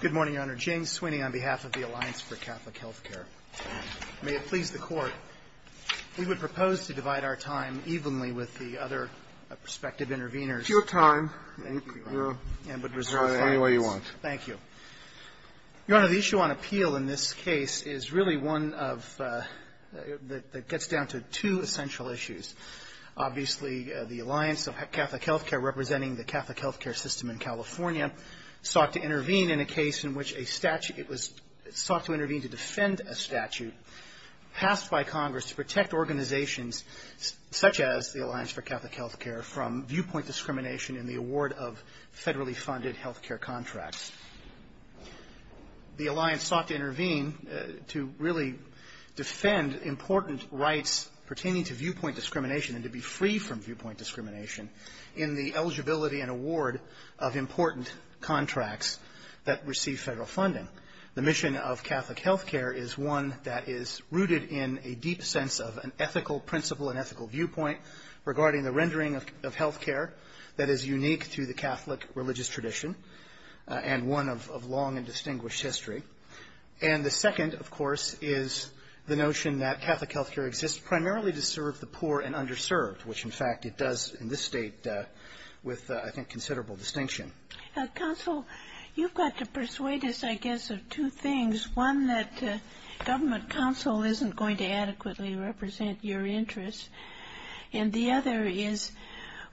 Good morning, Your Honor. Jane Sweeney on behalf of the Alliance for Catholic Health Care. May it please the Court. We would propose to divide our time evenly with the other prospective interveners. Your time. Thank you, Your Honor. You can divide it any way you want. Thank you. Your Honor, the issue on appeal in this case is really one that gets down to two essential issues. Obviously, the Alliance of Catholic Health Care, representing the Catholic health care system in California, sought to intervene in a case in which a statute, it was sought to intervene to defend a statute passed by Congress to protect organizations such as the Alliance for Catholic Health Care from viewpoint discrimination in the award of federally funded health care contracts. The Alliance sought to intervene to really defend important rights pertaining to viewpoint discrimination and to be free from viewpoint discrimination in the eligibility and award of important contracts that receive federal funding. The mission of Catholic health care is one that is rooted in a deep sense of an ethical principle, an ethical viewpoint regarding the rendering of health care that is unique to the Catholic religious tradition and one of long and distinguished history. And the second, of course, is the notion that Catholic health care exists primarily to serve the poor and underserved, which, in fact, it does in this state with, I think, considerable distinction. Counsel, you've got to persuade us, I guess, of two things. One, that government counsel isn't going to adequately represent your interests. And the other is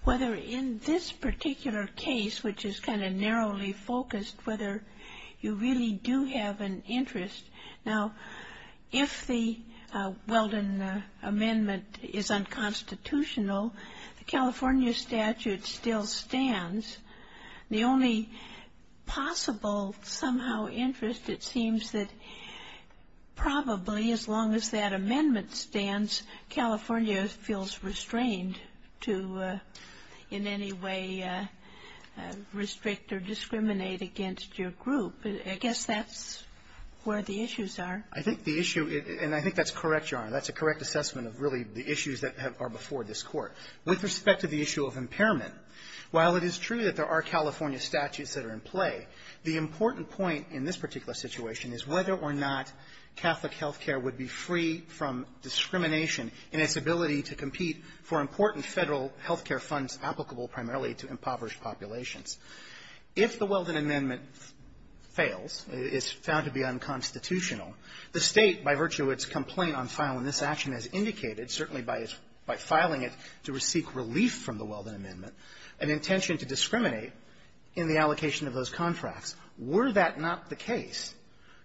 whether in this particular case, which is kind of narrowly focused, whether you really do have an interest. Now, if the Weldon Amendment is unconstitutional, the California statute still stands. The only possible somehow interest, it seems, that probably as long as that amendment stands, California feels restrained to in any way restrict or discriminate against your group. I guess that's where the issues are. I think the issue, and I think that's correct, Your Honor, that's a correct assessment of really the issues that are before this Court. With respect to the issue of impairment, while it is true that there are California statutes that are in play, the important point in this particular situation is whether or not Catholic health care would be free from discrimination in its ability to compete for important federal health care funds applicable primarily to impoverished populations. If the Weldon Amendment fails, is found to be unconstitutional, the State, by virtue of its complaint on filing this action as indicated, certainly by filing it to seek relief from the Weldon Amendment, an intention to discriminate in the allocation of those contracts, were that not the case,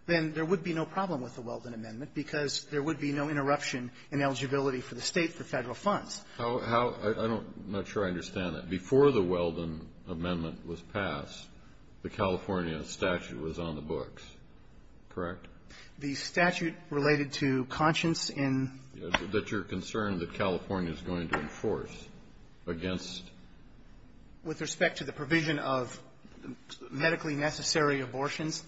then there would be no problem with the Weldon Amendment because there would be no interruption in eligibility for the State for federal funds. I'm not sure I understand that. Kennedy, before the Weldon Amendment was passed, the California statute was on the books. Correct? The statute related to conscience in ---- That you're concerned that California is going to enforce against ---- With respect to the provision of medically necessary abortions,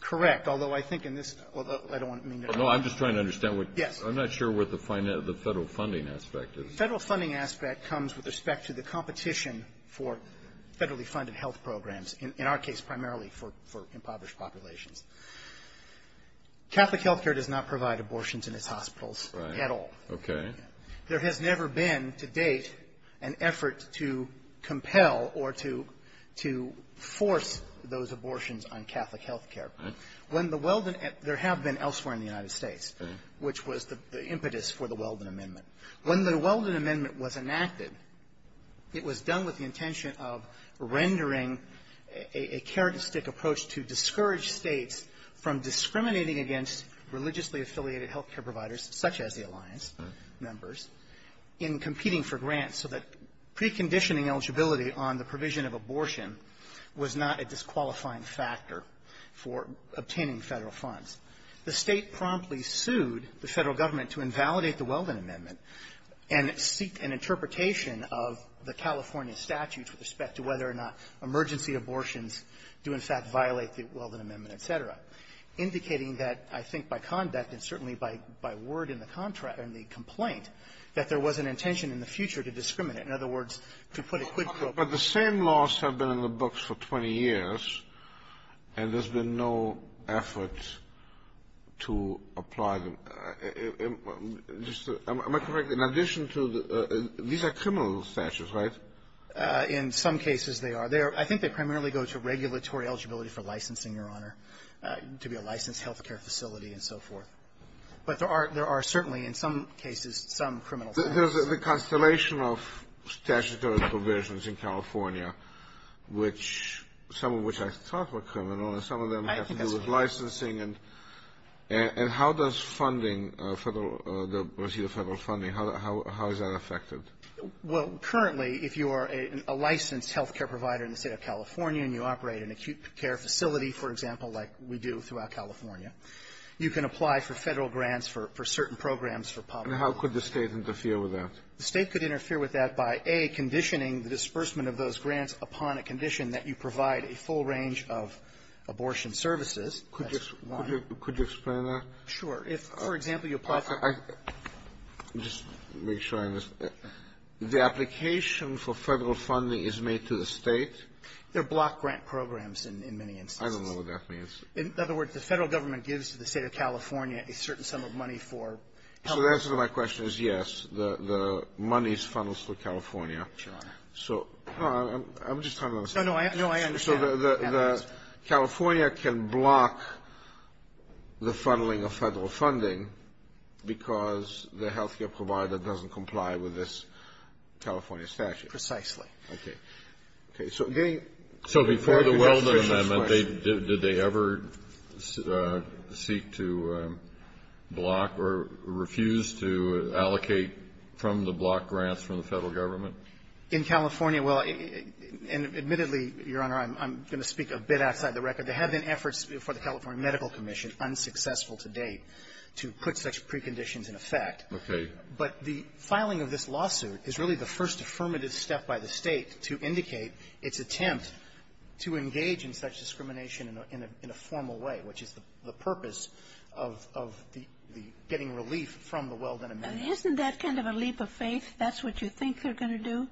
correct, although I think in this ---- although I don't want to ---- No. I'm just trying to understand what ---- I'm not sure what the federal funding aspect is. The federal funding aspect comes with respect to the competition for federally funded health programs, in our case, primarily for impoverished populations. Catholic health care does not provide abortions in its hospitals at all. Right. Okay. There has never been, to date, an effort to compel or to force those abortions on Catholic health care. When the Weldon ---- there have been elsewhere in the United States, which was the impetus for the Weldon Amendment. When the Weldon Amendment was enacted, it was done with the intention of rendering a characteristic approach to discourage States from discriminating against religiously affiliated health care providers such as the Alliance members in competing for grants so that preconditioning eligibility on the provision of abortion was not a disqualifying factor for obtaining Federal funds. The State promptly sued the Federal government to invalidate the Weldon Amendment and seek an interpretation of the California statute with respect to whether or not emergency abortions do, in fact, violate the Weldon Amendment, et cetera, indicating that, I think, by conduct and certainly by word in the contract ---- in the complaint, that there was an intention in the future to discriminate. In other words, to put a quid pro quo. But the same laws have been in the books for 20 years, and there's been no effort to apply them. Am I correct? In addition to the ---- these are criminal statutes, right? In some cases, they are. I think they primarily go to regulatory eligibility for licensing, Your Honor, to be a licensed health care facility and so forth. But there are certainly, in some cases, some criminal statutes. The Constellation of statutory provisions in California, which some of which I thought were criminal, and some of them have to do with licensing and how does funding Federal ---- the receipt of Federal funding, how is that affected? Well, currently, if you are a licensed health care provider in the State of California and you operate an acute care facility, for example, like we do throughout California, you can apply for Federal grants for certain programs for public health. And how could the State interfere with that? The State could interfere with that by, A, conditioning the disbursement of those grants upon a condition that you provide a full range of abortion services. That's one. Could you explain that? Sure. If, for example, you apply for ---- Just make sure I understand. The application for Federal funding is made to the State? They're block grant programs in many instances. I don't know what that means. sum of money for public health. So the answer to my question is, yes. The money is funneled through California. Sure. So I'm just trying to understand. No, no. I understand. So the California can block the funneling of Federal funding because the health care provider doesn't comply with this California statute. Precisely. Okay. Okay. So getting ---- Well, the amendment, did they ever seek to block or refuse to allocate from the block grants from the Federal government? In California, well, and admittedly, Your Honor, I'm going to speak a bit outside the record. There have been efforts before the California Medical Commission, unsuccessful to date, to put such preconditions in effect. Okay. But the filing of this lawsuit is really the first affirmative step by the State to indicate its attempt to engage in such discrimination in a formal way, which is the purpose of the getting relief from the well-done amendment. And isn't that kind of a leap of faith? That's what you think they're going to do?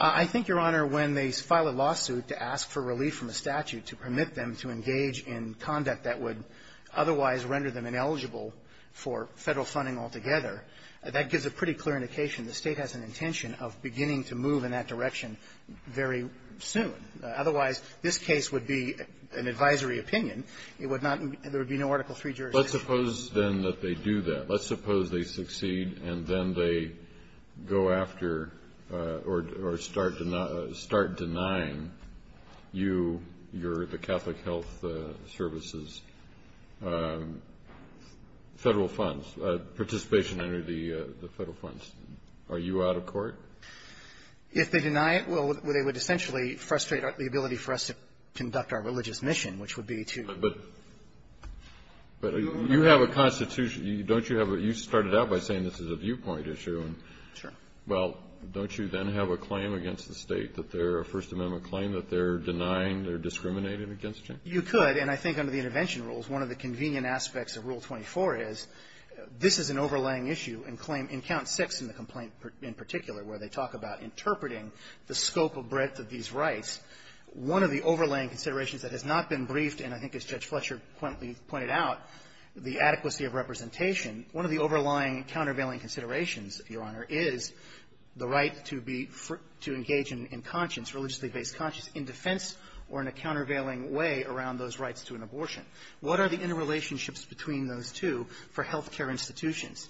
I think, Your Honor, when they file a lawsuit to ask for relief from a statute to permit them to engage in conduct that would otherwise render them ineligible for Federal funding altogether, that gives a pretty clear indication the State has an intention of beginning to move in that direction very soon. Otherwise, this case would be an advisory opinion. It would not be ---- there would be no Article III jurisdiction. Let's suppose, then, that they do that. Let's suppose they succeed, and then they go after or start denying you your ---- the Catholic Health Service's Federal funds, participation under the Federal funds. Are you out of court? If they deny it, well, they would essentially frustrate the ability for us to conduct our religious mission, which would be to ---- But you have a constitution. Don't you have a ---- you started out by saying this is a viewpoint issue. Sure. Well, don't you then have a claim against the State that they're a First Amendment claim, that they're denying, they're discriminating against you? You could. And I think under the intervention rules, one of the convenient aspects of Rule 24 is this is an overlaying issue and claim in Count 6 in the complaint in particular, where they talk about interpreting the scope of breadth of these rights. One of the overlaying considerations that has not been briefed, and I think as Judge Fletcher pointed out, the adequacy of representation, one of the overlying countervailing considerations, Your Honor, is the right to be ---- to engage in conscience, religiously based conscience, in defense or in a countervailing way around those rights to an abortion. What are the interrelationships between those two for health care institutions?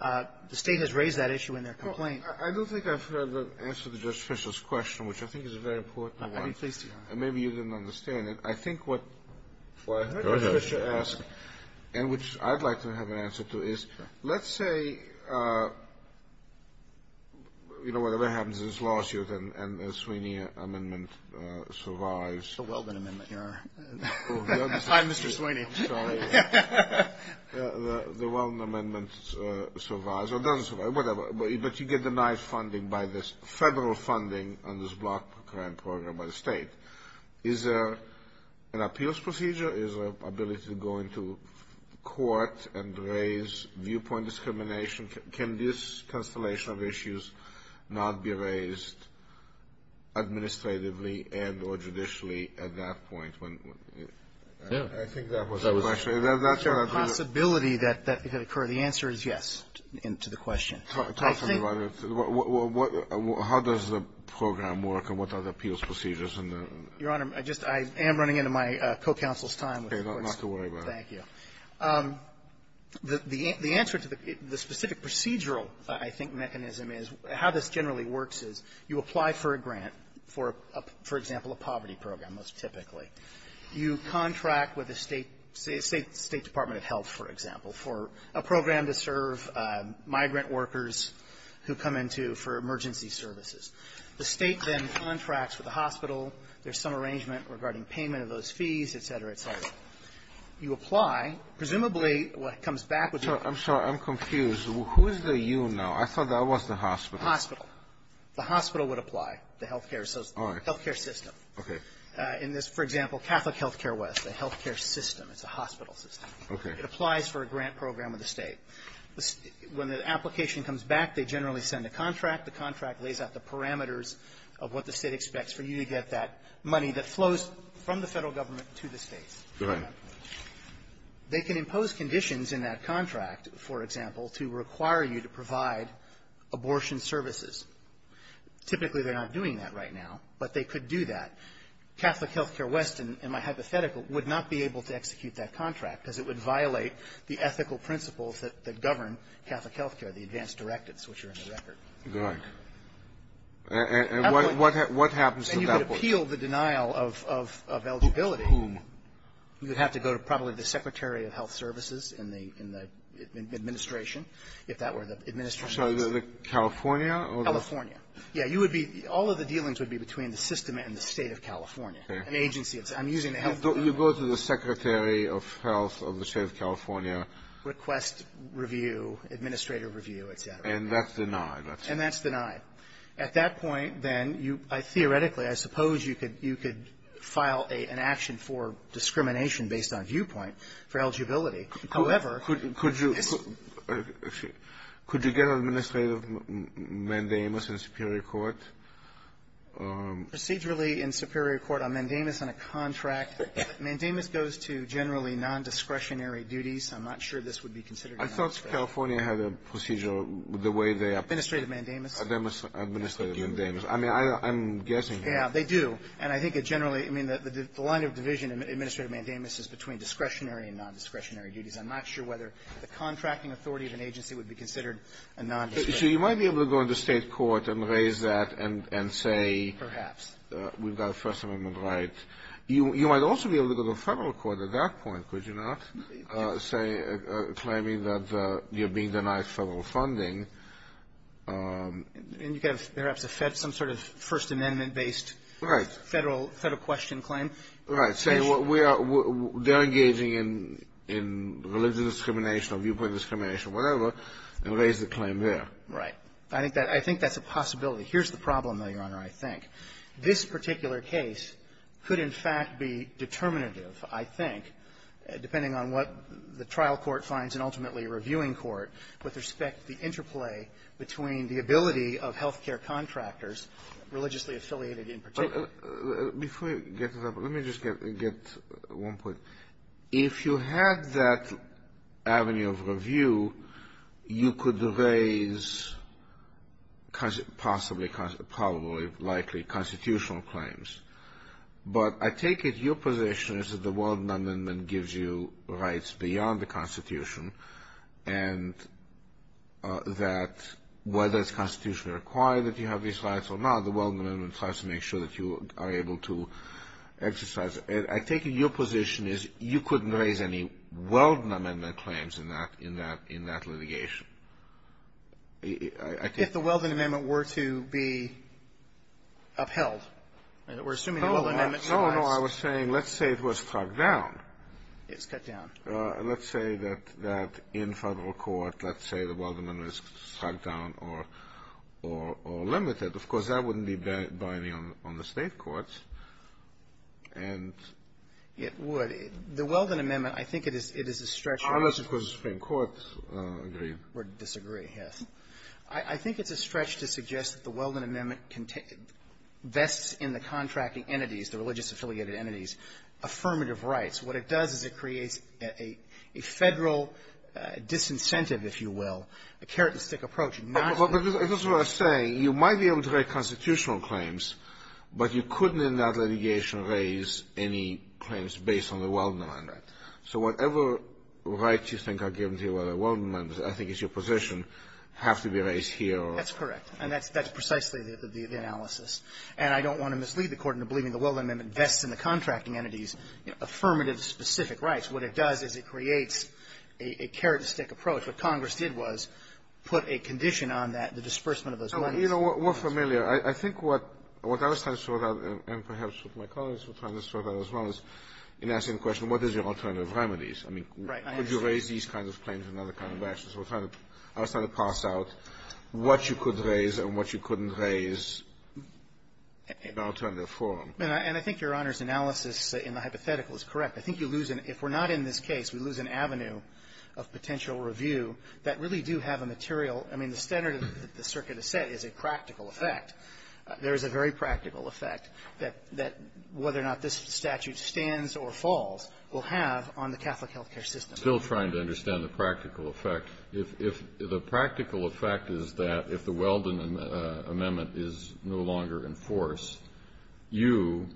The State has raised that issue in their complaint. I don't think I've heard the answer to Judge Fletcher's question, which I think is a very important one. I'd be pleased to hear it. And maybe you didn't understand it. I think what ---- Go ahead. ---- Fletcher asked, and which I'd like to have an answer to, is let's say, you know, whatever happens in this lawsuit and the Sweeney amendment survives. The Weldon amendment, Your Honor. Time Mr. Sweeney. The Weldon amendment survives or doesn't survive, whatever, but you get denied funding by this federal funding on this block grant program by the State. Is there an appeals procedure? Is there an ability to go into court and raise viewpoint discrimination? Can this constellation of issues not be raised administratively and or judicially at that point when ---- I think that was the question. That's what I'm trying to do. Possibility that that could occur. The answer is yes to the question. Talk to me about it. How does the program work and what are the appeals procedures? Your Honor, I just am running into my co-counsel's time. Okay. Not to worry about it. Thank you. The answer to the specific procedural, I think, mechanism is how this generally works is you apply for a grant for a, for example, a poverty program, most typically. You contract with a State Department of Health, for example, for a program to serve migrant workers who come into for emergency services. The State then contracts with the hospital. There's some arrangement regarding payment of those fees, et cetera, et cetera. You apply. Presumably, what comes back would be ---- I'm sorry. I'm confused. Who is the you now? I thought that was the hospital. Hospital. The hospital would apply, the health care system. Okay. In this, for example, Catholic Health Care West, the health care system. It's a hospital system. Okay. It applies for a grant program of the State. When the application comes back, they generally send a contract. The contract lays out the parameters of what the State expects for you to get that money that flows from the Federal government to the States. They can impose conditions in that contract, for example, to require you to provide abortion services. Typically, they're not doing that right now, but they could do that. Catholic Health Care West, in my hypothetical, would not be able to execute that contract, because it would violate the ethical principles that govern Catholic Health Care, the advanced directives, which are in the record. Good. And what happens to that? And you could appeal the denial of eligibility. Whom? You would have to go to probably the Secretary of Health Services in the administration, if that were the administration. California? California. Yeah. You would be – all of the dealings would be between the system and the State of California, an agency. I'm using the health care law. You go to the Secretary of Health of the State of California. Request review, administrator review, et cetera. And that's denied. And that's denied. At that point, then, you – theoretically, I suppose you could file an action for discrimination based on viewpoint for eligibility. However – Could you – could you get administrative mandamus in superior court? Procedurally in superior court, a mandamus and a contract. Mandamus goes to generally nondiscretionary duties. I'm not sure this would be considered a non-discretionary. I thought California had a procedure the way they – Administrative mandamus. Administrative mandamus. I mean, I'm guessing. Yeah. They do. And I think it generally – I mean, the line of division in administrative mandamus is between discretionary and nondiscretionary duties. I'm not sure whether the contracting authority of an agency would be considered a nondiscretionary. So you might be able to go into state court and raise that and say – Perhaps. We've got a First Amendment right. You might also be able to go to federal court at that point, could you not? Say – claiming that you're being denied federal funding. And you could have perhaps a Fed – some sort of First Amendment-based federal – federal question claim. Right. Say what we are – they're engaging in – in religious discrimination or viewpoint discrimination, whatever, and raise the claim there. Right. I think that – I think that's a possibility. Here's the problem, Your Honor, I think. This particular case could in fact be determinative, I think, depending on what the trial court finds and ultimately a reviewing court with respect to the interplay between the ability of health care contractors, religiously affiliated in particular Before you get to that, let me just get – get one point. If you had that avenue of review, you could raise possibly – probably, likely constitutional claims. But I take it your position is that the Weldon Amendment gives you rights beyond the Constitution and that whether it's constitutionally required that you have these rights or not, the Weldon Amendment tries to make sure that you are able to exercise it. I take it your position is you couldn't raise any Weldon Amendment claims in that – in that – in that litigation. I think – If the Weldon Amendment were to be upheld. We're assuming the Weldon Amendment – No, no, I was saying let's say it was struck down. It's cut down. Let's say that – that in federal court, let's say the Weldon Amendment is struck down or – or limited. Of course, that wouldn't be binding on the State courts. And – It would. The Weldon Amendment, I think it is – it is a stretch. Unless, of course, the Supreme Court agree. Or disagree, yes. I think it's a stretch to suggest that the Weldon Amendment vests in the contracting entities, the religious affiliated entities, affirmative rights. What it does is it creates a – a federal disincentive, if you will, a carrot-and-stick approach, not a – But that's what I'm saying. You might be able to write constitutional claims, but you couldn't in that litigation raise any claims based on the Weldon Amendment. Right. So whatever rights you think are given to you by the Weldon Amendment, I think it's your position, have to be raised here or – That's correct. And that's – that's precisely the – the analysis. And I don't want to mislead the Court into believing the Weldon Amendment vests in the contracting entities, affirmative specific rights. What it does is it creates a – a carrot-and-stick approach. What Congress did was put a condition on that, the disbursement of those rights. You know, we're familiar. I think what – what I was trying to sort out, and perhaps what my colleagues were trying to sort out as well, is in asking the question, what is your alternative remedies? I mean, could you raise these kinds of claims in other kind of matches? We're trying to – I was trying to parse out what you could raise and what you couldn't raise in an alternative forum. And I think Your Honor's analysis in the hypothetical is correct. I think you lose an – if we're not in this case, we lose an avenue of potential review that really do have a material – I mean, the standard that the circuit has set is a practical effect. There is a very practical effect that – that whether or not this statute stands or falls will have on the Catholic health care system. I'm still trying to understand the practical effect. If – if the practical effect is that if the Weldon Amendment is no longer in force, you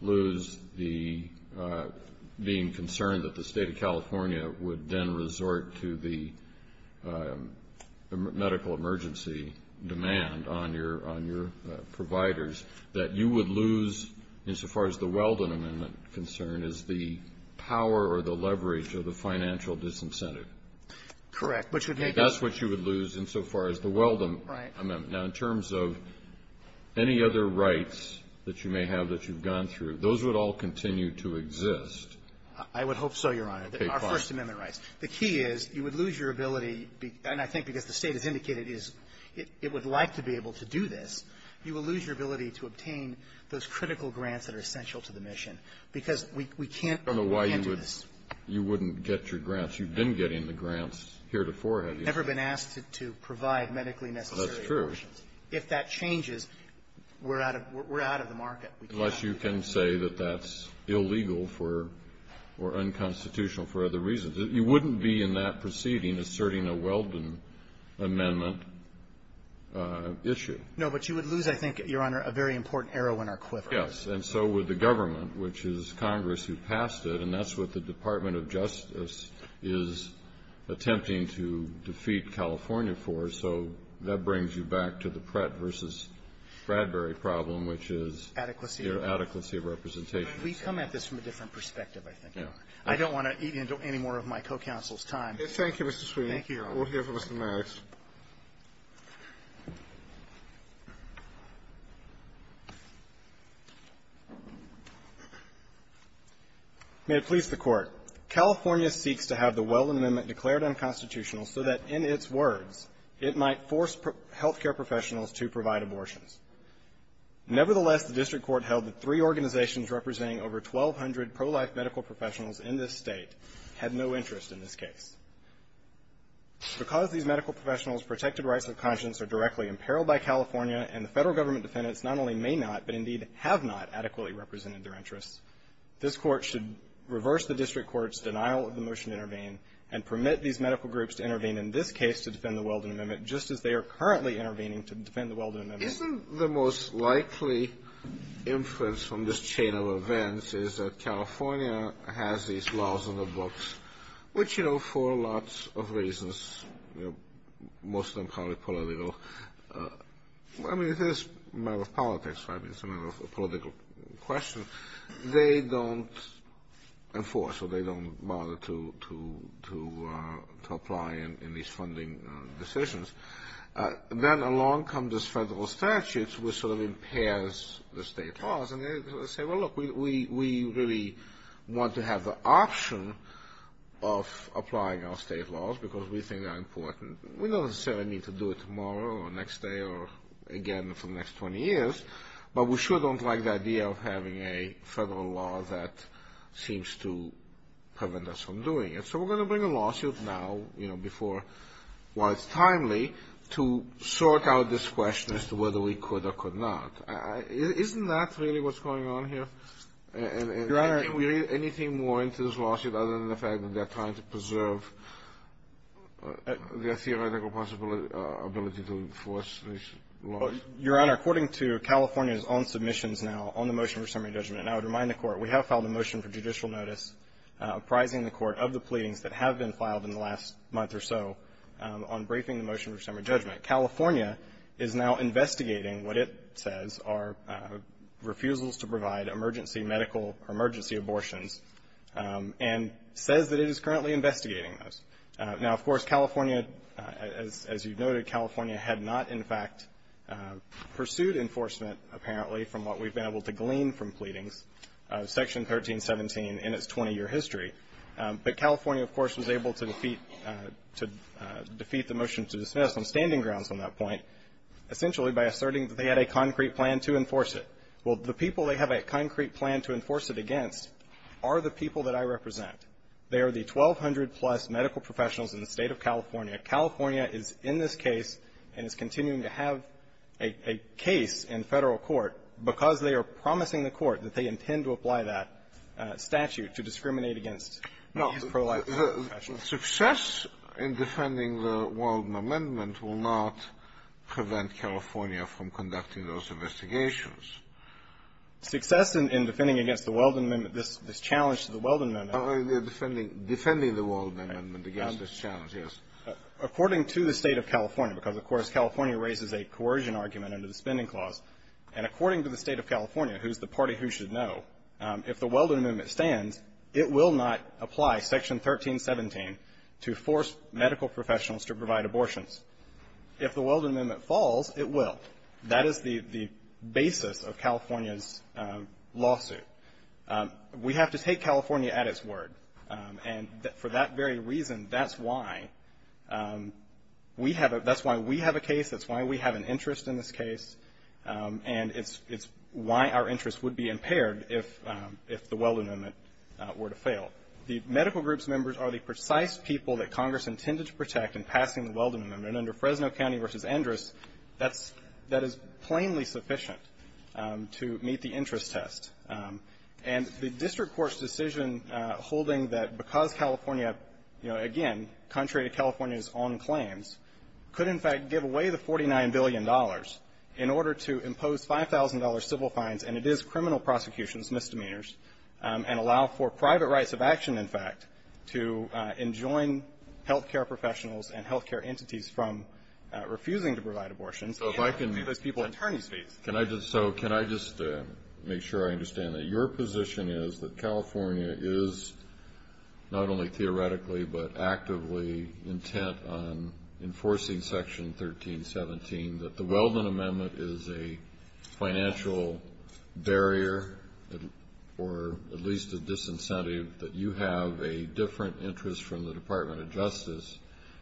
lose the – being concerned that the State of California would then resort to the medical emergency demand on your – on your providers, that you would lose, insofar as the Weldon Amendment concern, is the power or the leverage of the financial disincentive. Correct. Which would make it – That's what you would lose insofar as the Weldon Amendment. Right. Now, in terms of any other rights that you may have that you've gone through, those would all continue to exist. I would hope so, Your Honor. Our First Amendment rights. The key is you would lose your ability – and I think because the State has indicated is it would like to be able to do this. You will lose your ability to obtain those critical grants that are essential to the mission because we can't – I don't know why you would – you wouldn't get your grants. You've been getting the grants heretofore, have you? We've never been asked to provide medically necessary grants. That's true. If that changes, we're out of – we're out of the market. Unless you can say that that's illegal for – or unconstitutional for other reasons. You wouldn't be in that proceeding asserting a Weldon Amendment issue. No, but you would lose, I think, Your Honor, a very important arrow in our quiver. Yes. And so would the government, which is Congress who passed it, and that's what the Department of Justice is attempting to defeat California for. So that brings you back to the Pratt v. Bradbury problem, which is – Adequacy of – Adequacy of representation. We've come at this from a different perspective, I think, Your Honor. I don't want to eat into any more of my co-counsel's time. Thank you, Mr. Sweeney. Thank you. We'll hear from Mr. Maddox. May it please the Court. California seeks to have the Weldon Amendment declared unconstitutional so that, in its words, it might force health care professionals to provide abortions. Nevertheless, the district court held that three organizations representing over 1,200 pro-life medical professionals in this State had no interest in this case. Because these medical professionals' protected rights of conscience are directly imperiled by California and the federal government defendants not only may not but, indeed, have not adequately represented their interests, this Court should reverse the district court's denial of the motion to intervene and permit these medical groups to intervene in this case to defend the Weldon Amendment, just as they are currently intervening to defend the Weldon Amendment. Isn't the most likely influence from this chain of events is that California has these laws in the books, which, you know, for lots of reasons, most of them probably political. I mean, it is a matter of politics, so I mean, it's a matter of a political question. They don't enforce or they don't bother to apply in these funding decisions. Then along come these federal statutes, which sort of impairs the state laws, and they say, well, look, we really want to have the option of applying our state laws because we think they're important. We don't necessarily need to do it tomorrow or the next day or again for the next 20 years, but we sure don't like the idea of having a federal law that seems to prevent us from doing it. So we're going to bring a lawsuit now, you know, before, while it's timely, to sort out this question as to whether we could or could not. Isn't that really what's going on here? Your Honor. Anything more into this lawsuit other than the fact that they're trying to preserve their theoretical possibility, ability to enforce these laws? Your Honor, according to California's own submissions now on the motion for summary judgment, and I would remind the Court, we have filed a motion for judicial notice apprising the Court of the pleadings that have been filed in the last month or so on briefing the motion for summary judgment. California is now investigating what it says are refusals to provide emergency medical or emergency abortions and says that it is currently investigating those. Now, of course, California, as you've noted, California had not in fact pursued enforcement, apparently, from what we've been able to glean from pleadings, Section 1317 in its 20-year history. But California, of course, was able to defeat the motion to dismiss on standing grounds on that point, essentially by asserting that they had a concrete plan to enforce it. Well, the people they have a concrete plan to enforce it against are the people that I represent. They are the 1,200-plus medical professionals in the State of California. California is in this case and is continuing to have a case in Federal court because they are promising the Court that they intend to apply that statute to discriminate against these pro-life professionals. The success in defending the Weldon Amendment will not prevent California from conducting those investigations. Success in defending against the Weldon Amendment, this challenge to the Weldon Amendment. Defending the Weldon Amendment against this challenge, yes. According to the State of California, because, of course, California raises a coercion argument under the Spending Clause, and according to the State of California, who's the party who should know, if the Weldon Amendment stands, it will not apply. Section 1317 to force medical professionals to provide abortions. If the Weldon Amendment falls, it will. That is the basis of California's lawsuit. We have to take California at its word. And for that very reason, that's why we have a case. That's why we have an interest in this case. And it's why our interest would be impaired if the Weldon Amendment were to fail. The medical group's members are the precise people that Congress intended to protect in passing the Weldon Amendment. And under Fresno County v. Endress, that is plainly sufficient to meet the interest test. And the district court's decision holding that because California, you know, again, contrary to California's own claims, could in fact give away the $49 billion in order to impose $5,000 civil fines, and it is criminal prosecution, it's misdemeanors, and allow for private rights of action, in fact, to enjoin health care professionals and health care entities from refusing to provide abortions. So if I can be those people's attorney's fees. So can I just make sure I understand that your position is that California is not only theoretically but actively intent on enforcing Section 1317, that the Weldon Amendment is a financial barrier or at least a disincentive that you have a different interest from the Department of Justice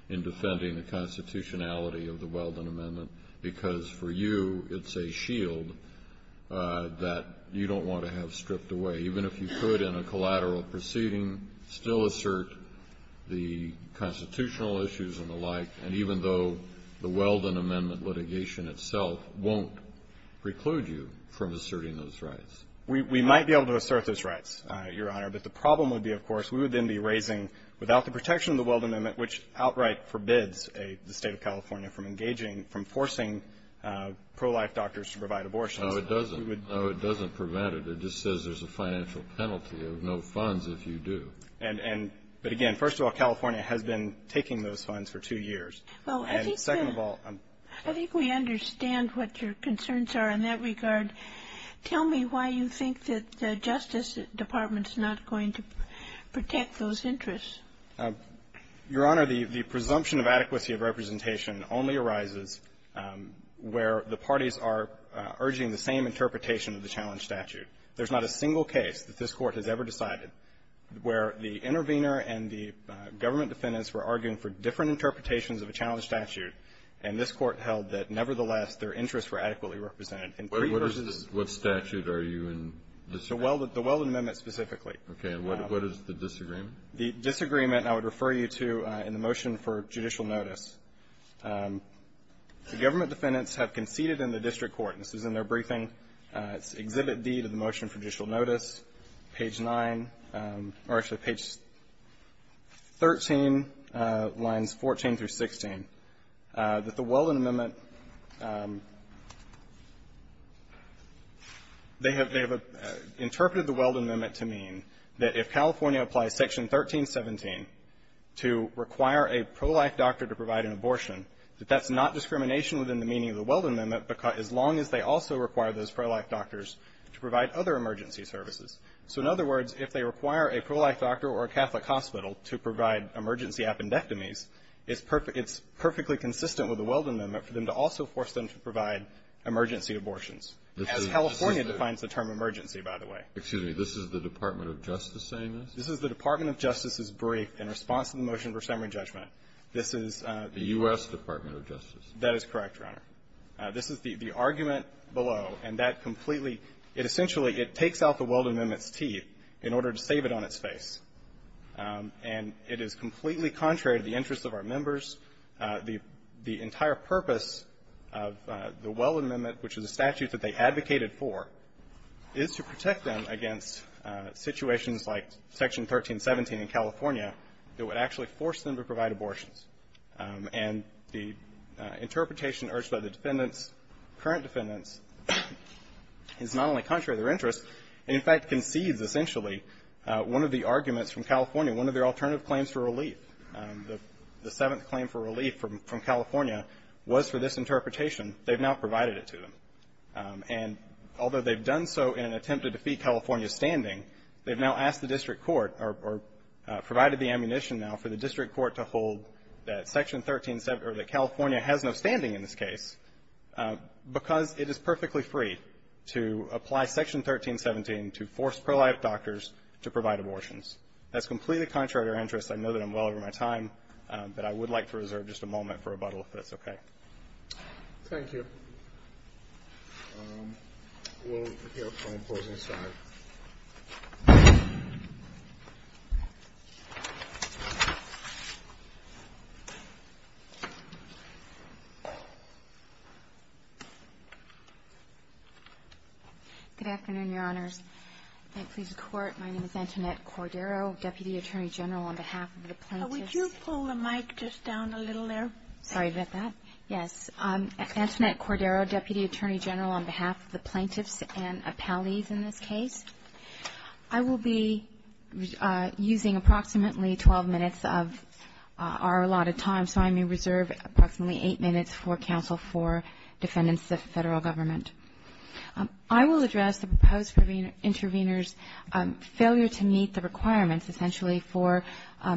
in defending the constitutionality of the Weldon Amendment, because for you it's a shield that you don't want to have stripped away, even if you could in a collateral proceeding still assert the constitutional issues and the like, and even though the Weldon Amendment litigation itself won't preclude you from asserting those rights? We might be able to assert those rights, Your Honor, but the problem would be, of course, we would then be raising without the protection of the Weldon Amendment, which outright forbids the State of California from engaging, from forcing pro-life doctors to provide abortions. No, it doesn't. No, it doesn't prevent it. It just says there's a financial penalty of no funds if you do. And, but, again, first of all, California has been taking those funds for two years. And second of all, I'm sorry. I think we understand what your concerns are in that regard. Tell me why you think that the Justice Department is not going to protect those interests. Your Honor, the presumption of adequacy of representation only arises where the parties are urging the same interpretation of the challenge statute. There's not a single case that this Court has ever decided where the intervener and the government defendants were arguing for different interpretations of a challenge statute, and this Court held that, nevertheless, their interests were adequately represented. What statute are you in disagreeing with? The Weldon Amendment specifically. Okay. And what is the disagreement? The disagreement I would refer you to in the motion for judicial notice. The government defendants have conceded in the district court, and this is in their briefing. It's Exhibit D to the motion for judicial notice, page 9, or actually page 13, lines 14 through 16, that the Weldon Amendment, they have interpreted the Weldon Amendment to mean that if California applies Section 1317 to require a pro-life doctor to provide an abortion, that that's not discrimination within the meaning of the Weldon Amendment, as long as they also require those pro-life doctors to provide other emergency services. So in other words, if they require a pro-life doctor or a Catholic hospital to provide emergency appendectomies, it's perfectly consistent with the Weldon Amendment for them to also force them to provide emergency abortions, as California defines the term emergency, by the way. Excuse me. This is the Department of Justice saying this? This is the Department of Justice's brief in response to the motion for summary judgment. This is the U.S. Department of Justice. That is correct, Your Honor. This is the argument below, and that completely, it essentially, it takes out the Weldon Amendment's teeth in order to save it on its face. And it is completely contrary to the interests of our members. The entire purpose of the Weldon Amendment, which is a statute that they advocated for, is to protect them against situations like Section 1317 in California that would actually force them to provide abortions. And the interpretation urged by the defendants, current defendants, is not only contrary to their interests, it in fact concedes, essentially, one of the arguments from California, one of their alternative claims for relief, the seventh claim for relief from California, was for this interpretation. They've now provided it to them. And although they've done so in an attempt to defeat California's standing, they've now asked the district court, or provided the ammunition now, for the district court to hold that Section 1317, or that California has no standing in this case, because it is perfectly free to apply Section 1317 to force pro-life doctors to provide abortions. That's completely contrary to their interests. I know that I'm well over my time, but I would like to reserve just a moment for rebuttal if that's okay. Thank you. We'll hear from the opposing side. Good afternoon, Your Honors. Thank you for your support. My name is Antoinette Cordero, Deputy Attorney General on behalf of the plaintiffs. Would you pull the mic just down a little there? Sorry about that. Yes. Antoinette Cordero, Deputy Attorney General on behalf of the plaintiffs and appellees in this case. I will be using approximately 12 minutes of our allotted time, so I may reserve approximately eight minutes for counsel for defendants of the Federal Government. I will address the proposed intervener's failure to meet the requirements, essentially, for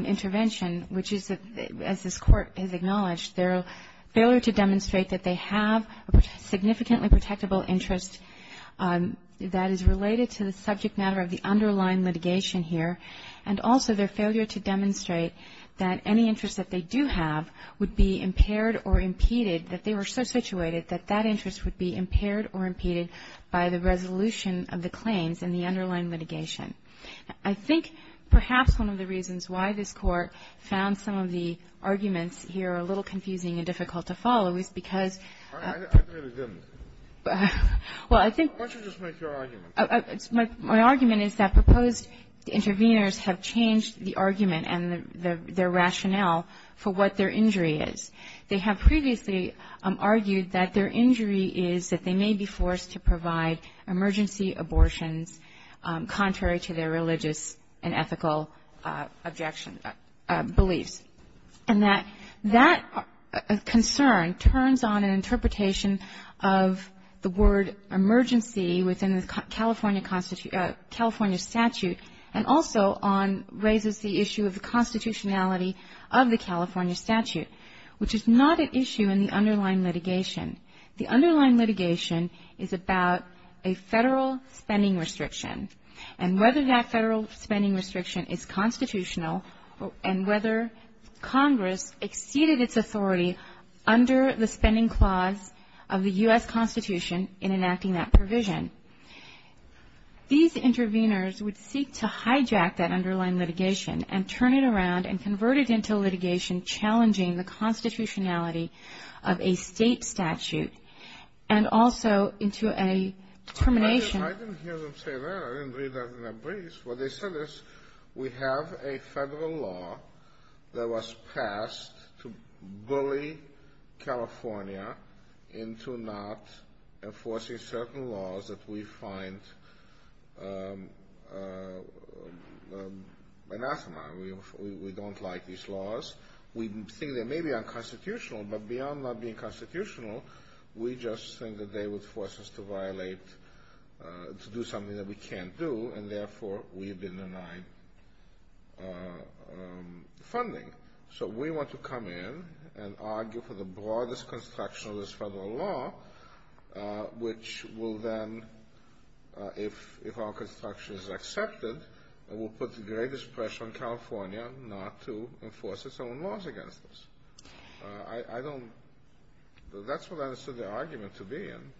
intervention, which is, as this Court has acknowledged, their failure to demonstrate that they have a significantly protectable interest that is related to the subject matter of the underlying litigation here, and also their failure to demonstrate that any interest that they do have would be impaired or impeded, that they were so situated that that interest would be impaired or impeded by the resolution of the claims in the underlying litigation. I think perhaps one of the reasons why this Court found some of the arguments here a little confusing and difficult to follow is because of the ---- I really didn't. Well, I think ---- Why don't you just make your argument? My argument is that proposed interveners have changed the argument and their rationale for what their injury is. And that that concern turns on an interpretation of the word emergency within the California statute, and also on, raises the issue of the constitutionality of the California statute, which is not an issue in the underlying litigation. federal spending restriction, and whether that federal spending restriction is constitutional, and whether Congress exceeded its authority under the spending clause of the U.S. Constitution in enacting that provision. These interveners would seek to hijack that underlying litigation and turn it around and convert it into litigation challenging the constitutionality of a state statute, and also into a determination. I didn't hear them say that. I didn't read that in a brief. What they said is we have a federal law that was passed to bully California into not enforcing certain laws that we find anathema. We don't like these laws. We think they may be unconstitutional, but beyond not being constitutional, we just think that they would force us to violate, to do something that we can't do, and therefore we've been denied funding. So we want to come in and argue for the broadest construction of this federal law, which will then, if our construction is accepted, it will put the greatest pressure on California not to enforce its own laws against us. I don't – that's what I understood the argument to be in.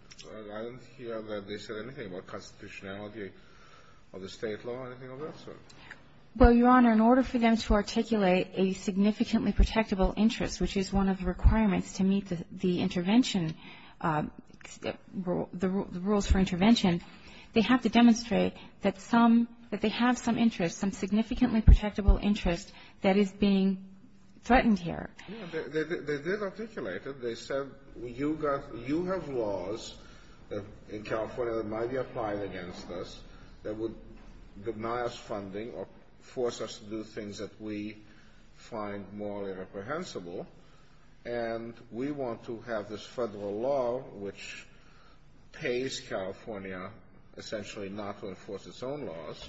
I didn't hear that they said anything about constitutionality of the state law or anything of that sort. Well, Your Honor, in order for them to articulate a significantly protectable interest, which is one of the requirements to meet the intervention – the rules for intervention, they have to demonstrate that some – that they have some interest, some significantly protectable interest that is being threatened here. They did articulate it. They said you have laws in California that might be applied against us that would deny us funding or force us to do things that we find morally reprehensible, and we want to have this federal law, which pays California essentially not to enforce its own laws,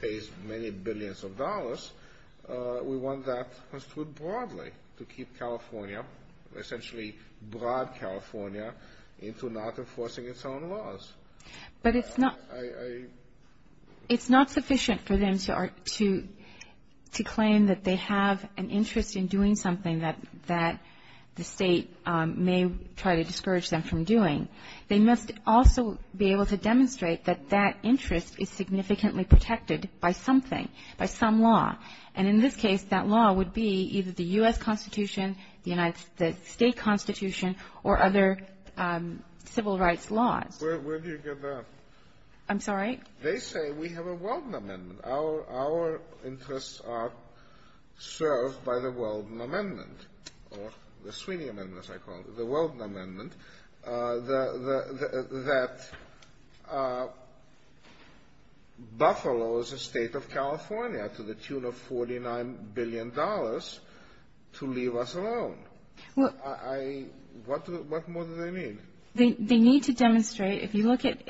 pays many billions of dollars. We want that construed broadly to keep California – essentially broad California into not enforcing its own laws. But it's not – it's not sufficient for them to claim that they have an interest in trying to discourage them from doing. They must also be able to demonstrate that that interest is significantly protected by something, by some law. And in this case, that law would be either the U.S. Constitution, the United States State Constitution, or other civil rights laws. Where do you get that? I'm sorry? They say we have a Weldon Amendment. Our interests are served by the Weldon Amendment, or the Sweeney Amendment, as I call it, the Weldon Amendment, that Buffalo is a state of California to the tune of $49 billion to leave us alone. Well, I – what more do they need? They need to demonstrate – if you look at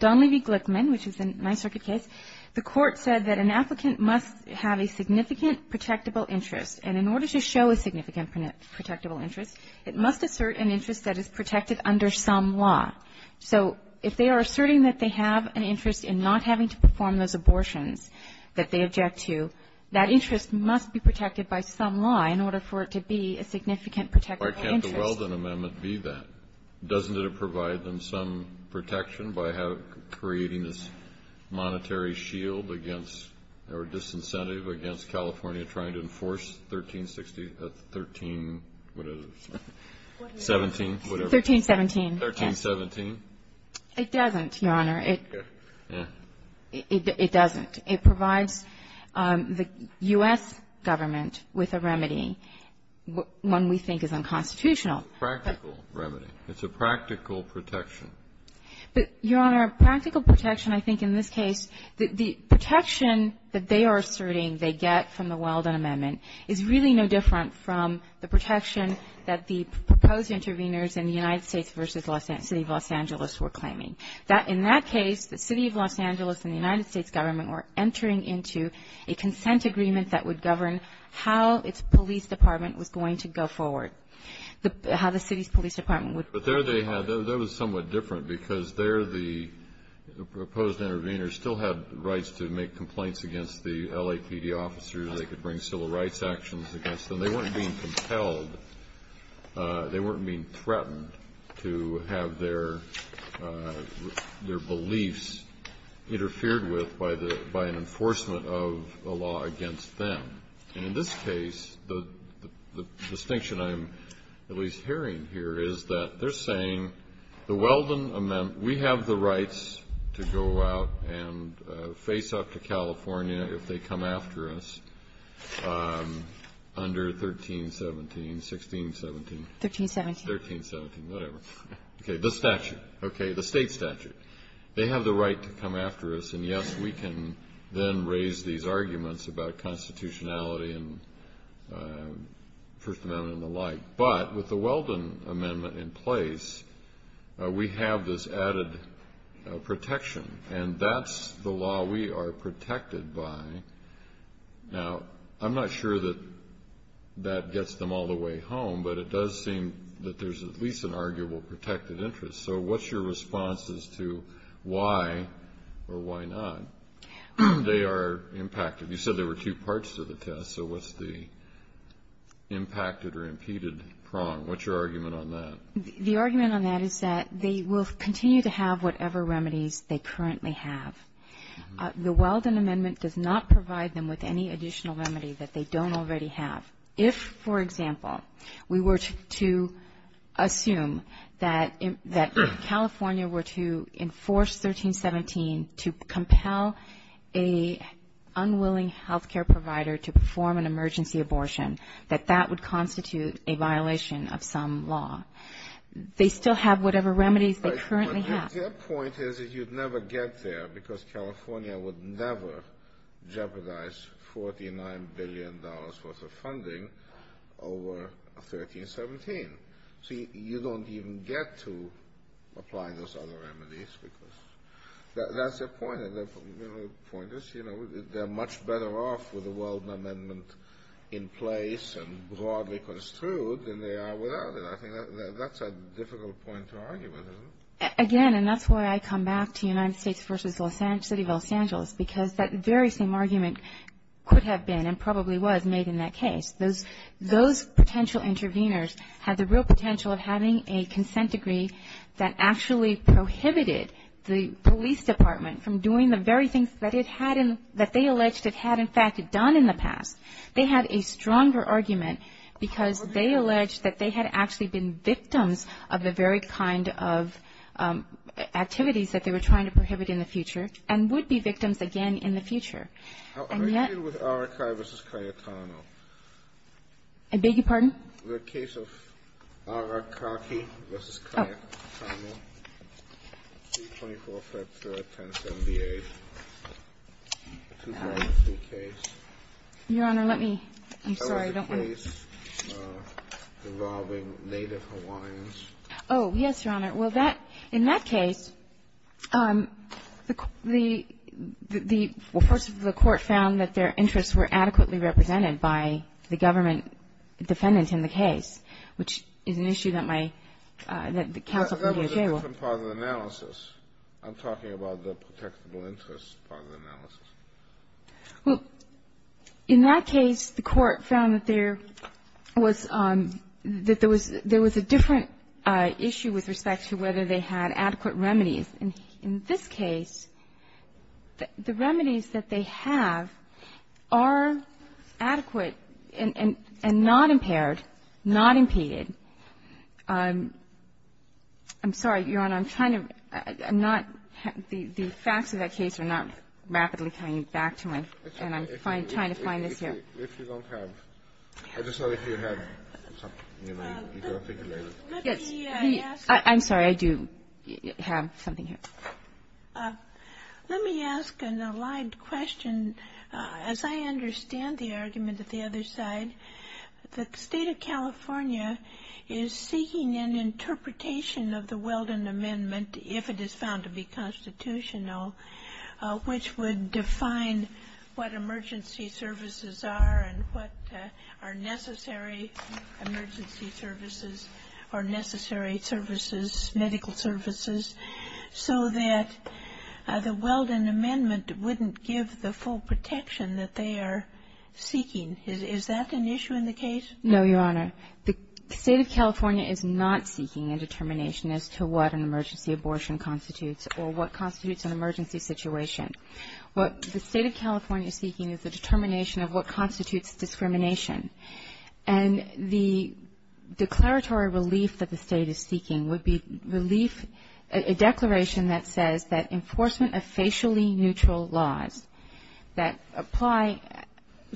Donlevy-Glickman, which is a Ninth Circuit case, the Court said that an applicant must have a significant protectable interest. And in order to show a significant protectable interest, it must assert an interest that is protected under some law. So if they are asserting that they have an interest in not having to perform those abortions that they object to, that interest must be protected by some law in order for it to be a significant protectable interest. Why can't the Weldon Amendment be that? Doesn't it provide them some protection by creating this monetary shield against or disincentive against California trying to enforce 1360 – 13-whatever it is. 17-whatever. 1317. 1317. It doesn't, Your Honor. It doesn't. It provides the U.S. government with a remedy, one we think is unconstitutional. Practical remedy. It's a practical protection. But, Your Honor, practical protection, I think, in this case, the protection that they are asserting they get from the Weldon Amendment is really no different from the protection that the proposed interveners in the United States v. City of Los Angeles were claiming. In that case, the City of Los Angeles and the United States government were entering into a consent agreement that would govern how its police department was going to go forward, how the city's police department would go forward. But there they had – that was somewhat different because there the proposed interveners still had rights to make complaints against the LAPD officers. They could bring civil rights actions against them. They weren't being compelled. They weren't being threatened to have their beliefs interfered with by an enforcement of a law against them. And in this case, the distinction I'm at least hearing here is that they're saying the Weldon Amendment – we have the rights to go out and face up to California if they come after us under 1317, 1617. 1317. 1317, whatever. Okay. The statute. The State statute. They have the right to come after us. And, yes, we can then raise these arguments about constitutionality and First Amendment and the like. But with the Weldon Amendment in place, we have this added protection. And that's the law we are protected by. Now, I'm not sure that that gets them all the way home, but it does seem that there's at least an arguable protected interest. So what's your response as to why or why not they are impacted? You said there were two parts to the test. So what's the impacted or impeded prong? What's your argument on that? The argument on that is that they will continue to have whatever remedies they currently have. The Weldon Amendment does not provide them with any additional remedy that they don't already have. If, for example, we were to assume that California were to enforce 1317 to compel an unwilling health care provider to perform an emergency abortion, that that would constitute a violation of some law. They still have whatever remedies they currently have. Your point is that you'd never get there because California would never jeopardize $49 billion worth of funding over 1317. So you don't even get to apply those other remedies because that's the point. The point is, you know, they're much better off with the Weldon Amendment in place and broadly construed than they are without it. I think that's a difficult point to argue with, isn't it? Again, and that's why I come back to United States v. City of Los Angeles, because that very same argument could have been and probably was made in that case. Those potential interveners had the real potential of having a consent degree that actually prohibited the police department from doing the very things that they alleged it had in fact done in the past. They had a stronger argument because they alleged that they had actually been victims of the very kind of activities that they were trying to prohibit in the future and would be victims again in the future. And yet ---- I agree with Arakaki v. Cayetano. I beg your pardon? The case of Arakaki v. Cayetano, 324-510-78, 2003 case. Your Honor, let me. I'm sorry. That was the case involving Native Hawaiians. Oh, yes, Your Honor. Well, that ---- in that case, the court found that their interests were adequately represented by the government defendant in the case, which is an issue that my ---- That was a different part of the analysis. I'm talking about the protectable interests part of the analysis. Well, in that case, the court found that there was ---- that there was a different issue with respect to whether they had adequate remedies. In this case, the remedies that they have are adequate and not impaired, not impeded. I'm sorry, Your Honor. And I'm trying to not ---- the facts of that case are not rapidly coming back to me, and I'm trying to find this here. If you don't have ---- I'm sorry. If you have something, you can articulate it. Yes. Let me ask. I'm sorry. I do have something here. Let me ask an allied question. As I understand the argument at the other side, the State of California is seeking an interpretation of the Weldon Amendment, if it is found to be constitutional, which would define what emergency services are and what are necessary emergency services or necessary services, medical services, so that the Weldon Amendment wouldn't give the full protection that they are seeking. Is that an issue in the case? No, Your Honor. The State of California is not seeking a determination as to what an emergency abortion constitutes or what constitutes an emergency situation. What the State of California is seeking is the determination of what constitutes discrimination. And the declaratory relief that the State is seeking would be relief, a declaration that says that enforcement of facially neutral laws that apply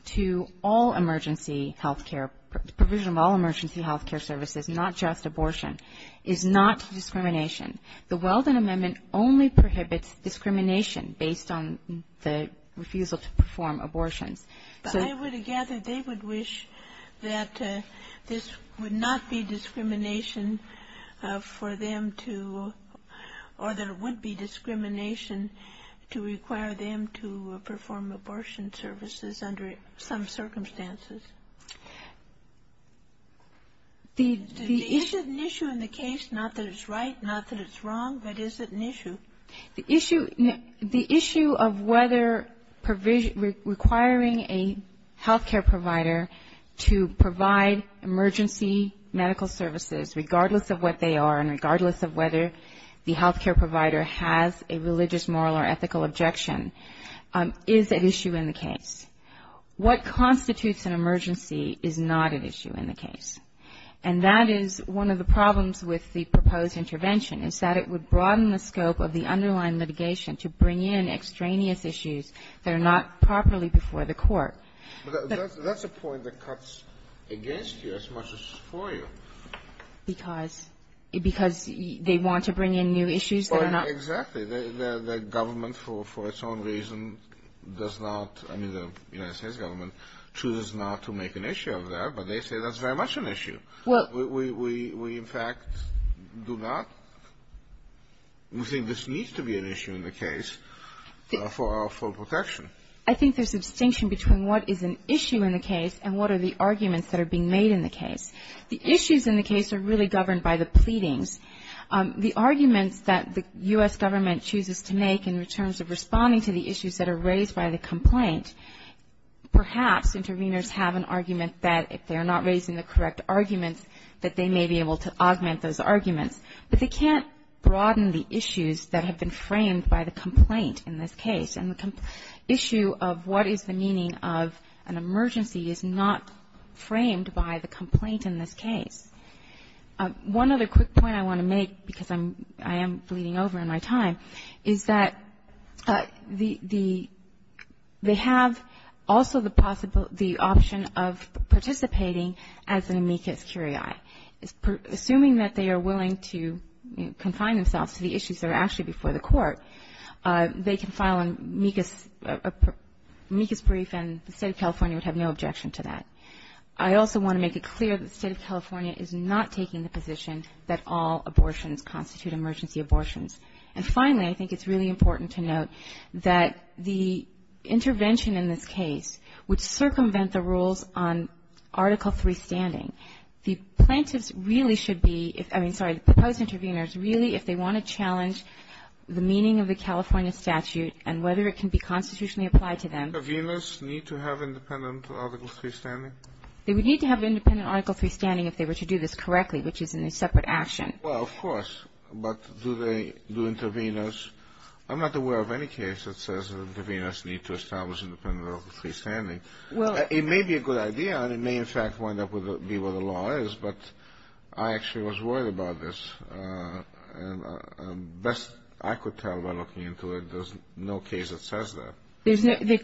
to all emergency healthcare, provision of all emergency healthcare services, not just abortion, is not discrimination. The Weldon Amendment only prohibits discrimination based on the refusal to perform abortions. But I would gather they would wish that this would not be discrimination for them to or that it would be discrimination to require them to perform abortion services under some circumstances. Is it an issue in the case, not that it's right, not that it's wrong, but is it an issue? The issue of whether requiring a healthcare provider to provide emergency medical services, regardless of what they are and regardless of whether the healthcare provider has a religious, moral or ethical objection, is an issue in the case. What constitutes an emergency is not an issue in the case. And that is one of the problems with the proposed intervention, is that it would broaden the scope of the underlying litigation to bring in extraneous issues that are not properly before the court. But that's a point that cuts against you as much as for you. Because they want to bring in new issues that are not. Exactly. The government, for its own reason, does not, I mean the United States government, chooses not to make an issue of that, but they say that's very much an issue. We, in fact, do not. We think this needs to be an issue in the case for our full protection. I think there's a distinction between what is an issue in the case and what are the arguments that are being made in the case. The issues in the case are really governed by the pleadings. The arguments that the U.S. government chooses to make in terms of responding to the issues that are raised by the complaint, perhaps interveners have an argument that, if they're not raising the correct arguments, that they may be able to augment those arguments. But they can't broaden the issues that have been framed by the complaint in this case. And the issue of what is the meaning of an emergency is not framed by the complaint in this case. One other quick point I want to make, because I am bleeding over in my time, is that they have also the option of participating as an amicus curiae. Assuming that they are willing to confine themselves to the issues that are actually before the court, they can file an amicus brief, and the State of California would have no objection to that. I also want to make it clear that the State of California is not taking the position that all abortions constitute emergency abortions. And finally, I think it's really important to note that the intervention in this case would circumvent the rules on Article III standing. The plaintiffs really should be, I mean, sorry, the proposed interveners, really if they want to challenge the meaning of the California statute and whether it can be constitutionally applied to them. Interveners need to have independent Article III standing? They would need to have independent Article III standing if they were to do this correctly, which is in a separate action. Well, of course. But do they do interveners? I'm not aware of any case that says that interveners need to establish independent Article III standing. It may be a good idea, and it may in fact wind up being what the law is, but I actually was worried about this. Best I could tell by looking into it, there's no case that says that. The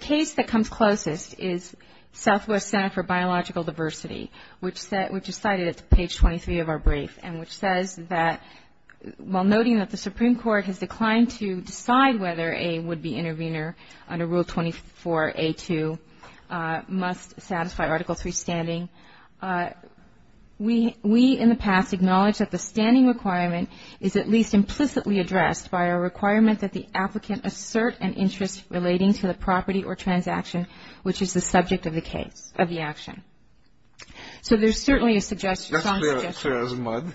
case that comes closest is Southwest Center for Biological Diversity, which is cited at page 23 of our brief, and which says that, while noting that the Supreme Court has declined to decide whether a would-be intervener under Rule 24A2 must satisfy Article III standing, we in the past acknowledge that the standing requirement is at least implicitly addressed by a requirement that the applicant assert an interest relating to the property or transaction which is the subject of the case, of the action. So there's certainly a suggestion. That's clear as mud.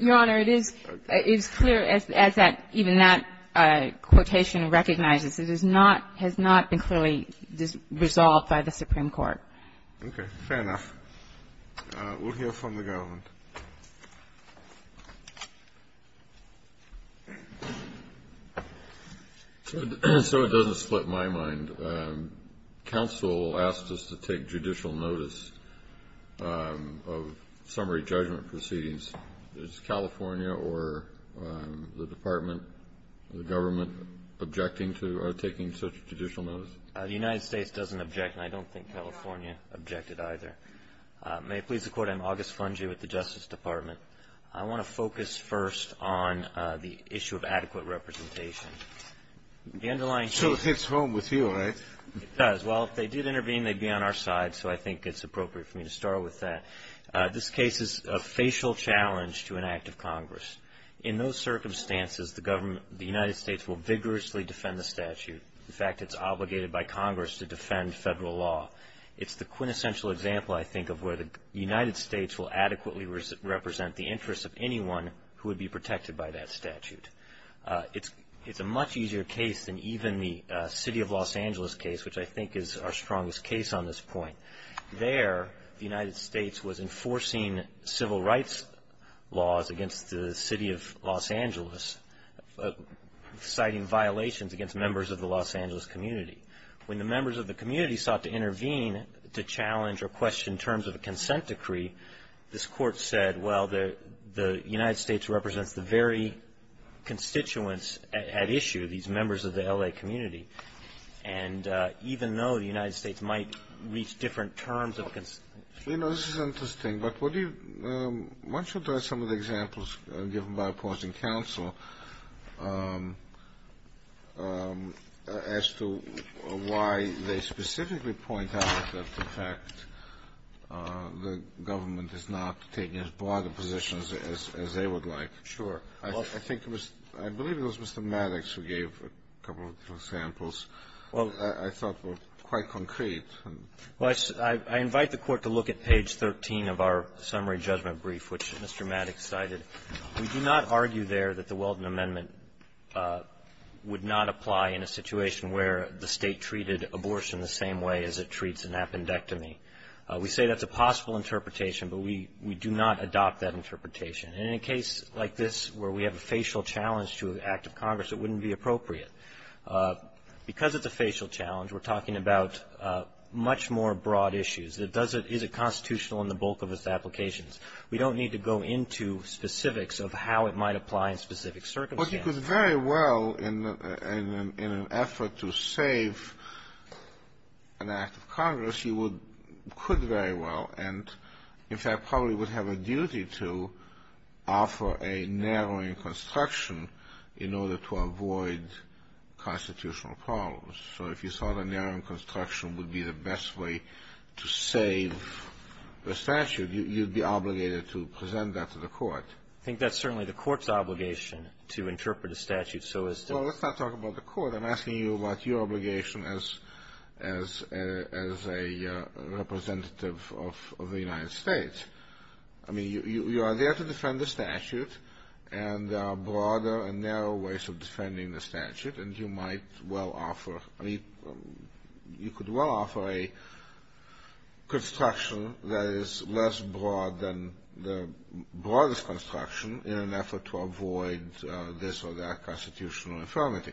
Your Honor, it is clear as that even that quotation recognizes. It is not, has not been clearly resolved by the Supreme Court. Okay. Fair enough. We'll hear from the government. So it doesn't split my mind. Counsel asked us to take judicial notice of summary judgment proceedings. Is California or the Department, the government, objecting to taking such judicial notice? The United States doesn't object, and I don't think California objected either. May it please the Court, I'm August Fungi with the Justice Department. I want to focus first on the issue of adequate representation. It sort of hits home with you, right? It does. Well, if they did intervene, they'd be on our side, so I think it's appropriate for me to start with that. This case is a facial challenge to an act of Congress. In those circumstances, the United States will vigorously defend the statute. In fact, it's obligated by Congress to defend federal law. It's the quintessential example, I think, of where the United States will adequately represent the interests of anyone who would be protected by that statute. It's a much easier case than even the city of Los Angeles case, which I think is our strongest case on this point. There, the United States was enforcing civil rights laws against the city of Los Angeles, citing violations against members of the Los Angeles community. When the members of the community sought to intervene to challenge or question terms of a consent decree, this court said, well, the United States represents the very constituents at issue, these members of the L.A. community. And even though the United States might reach different terms of consent. You know, this is interesting, but what do you – why don't you address some of the examples given by opposing counsel as to why they specifically point out that, in fact, the government is not taking as broad a position as they would like? I think it was – I believe it was Mr. Maddox who gave a couple of examples I thought were quite concrete. Well, I invite the Court to look at page 13 of our summary judgment brief, which Mr. Maddox cited. We do not argue there that the Weldon Amendment would not apply in a situation where the State treated abortion the same way as it treats an appendectomy. We say that's a possible interpretation, but we do not adopt that interpretation. And in a case like this where we have a facial challenge to an act of Congress, it wouldn't be appropriate. Because it's a facial challenge, we're talking about much more broad issues. Is it constitutional in the bulk of its applications? We don't need to go into specifics of how it might apply in specific circumstances. Well, you could very well, in an effort to save an act of Congress, you would – could very well and, in fact, probably would have a duty to offer a narrowing construction in order to avoid constitutional problems. So if you thought a narrowing construction would be the best way to save the statute, you'd be obligated to present that to the Court. I think that's certainly the Court's obligation to interpret a statute. Well, let's not talk about the Court. I'm asking you about your obligation as a representative of the United States. I mean, you are there to defend the statute, and there are broader and narrow ways of defending the statute, and you might well offer – you could well offer a construction that is less broad than the broadest construction in an effort to avoid this or that constitutional infirmity.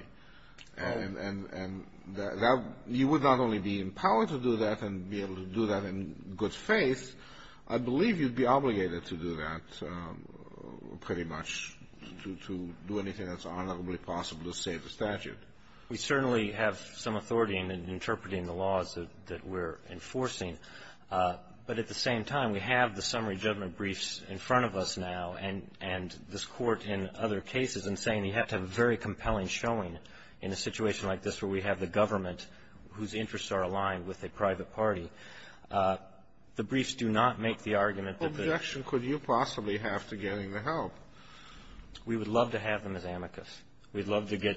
And you would not only be empowered to do that and be able to do that in good faith, I believe you'd be obligated to do that pretty much to do anything that's honorably possible to save the statute. We certainly have some authority in interpreting the laws that we're enforcing. But at the same time, we have the summary judgment briefs in front of us now, and this Court in other cases is saying you have to have a very compelling showing in a situation like this where we have the government whose interests are aligned with a private party. The briefs do not make the argument that the – What objection could you possibly have to getting the help? We would love to have them as amicus. We'd love to get,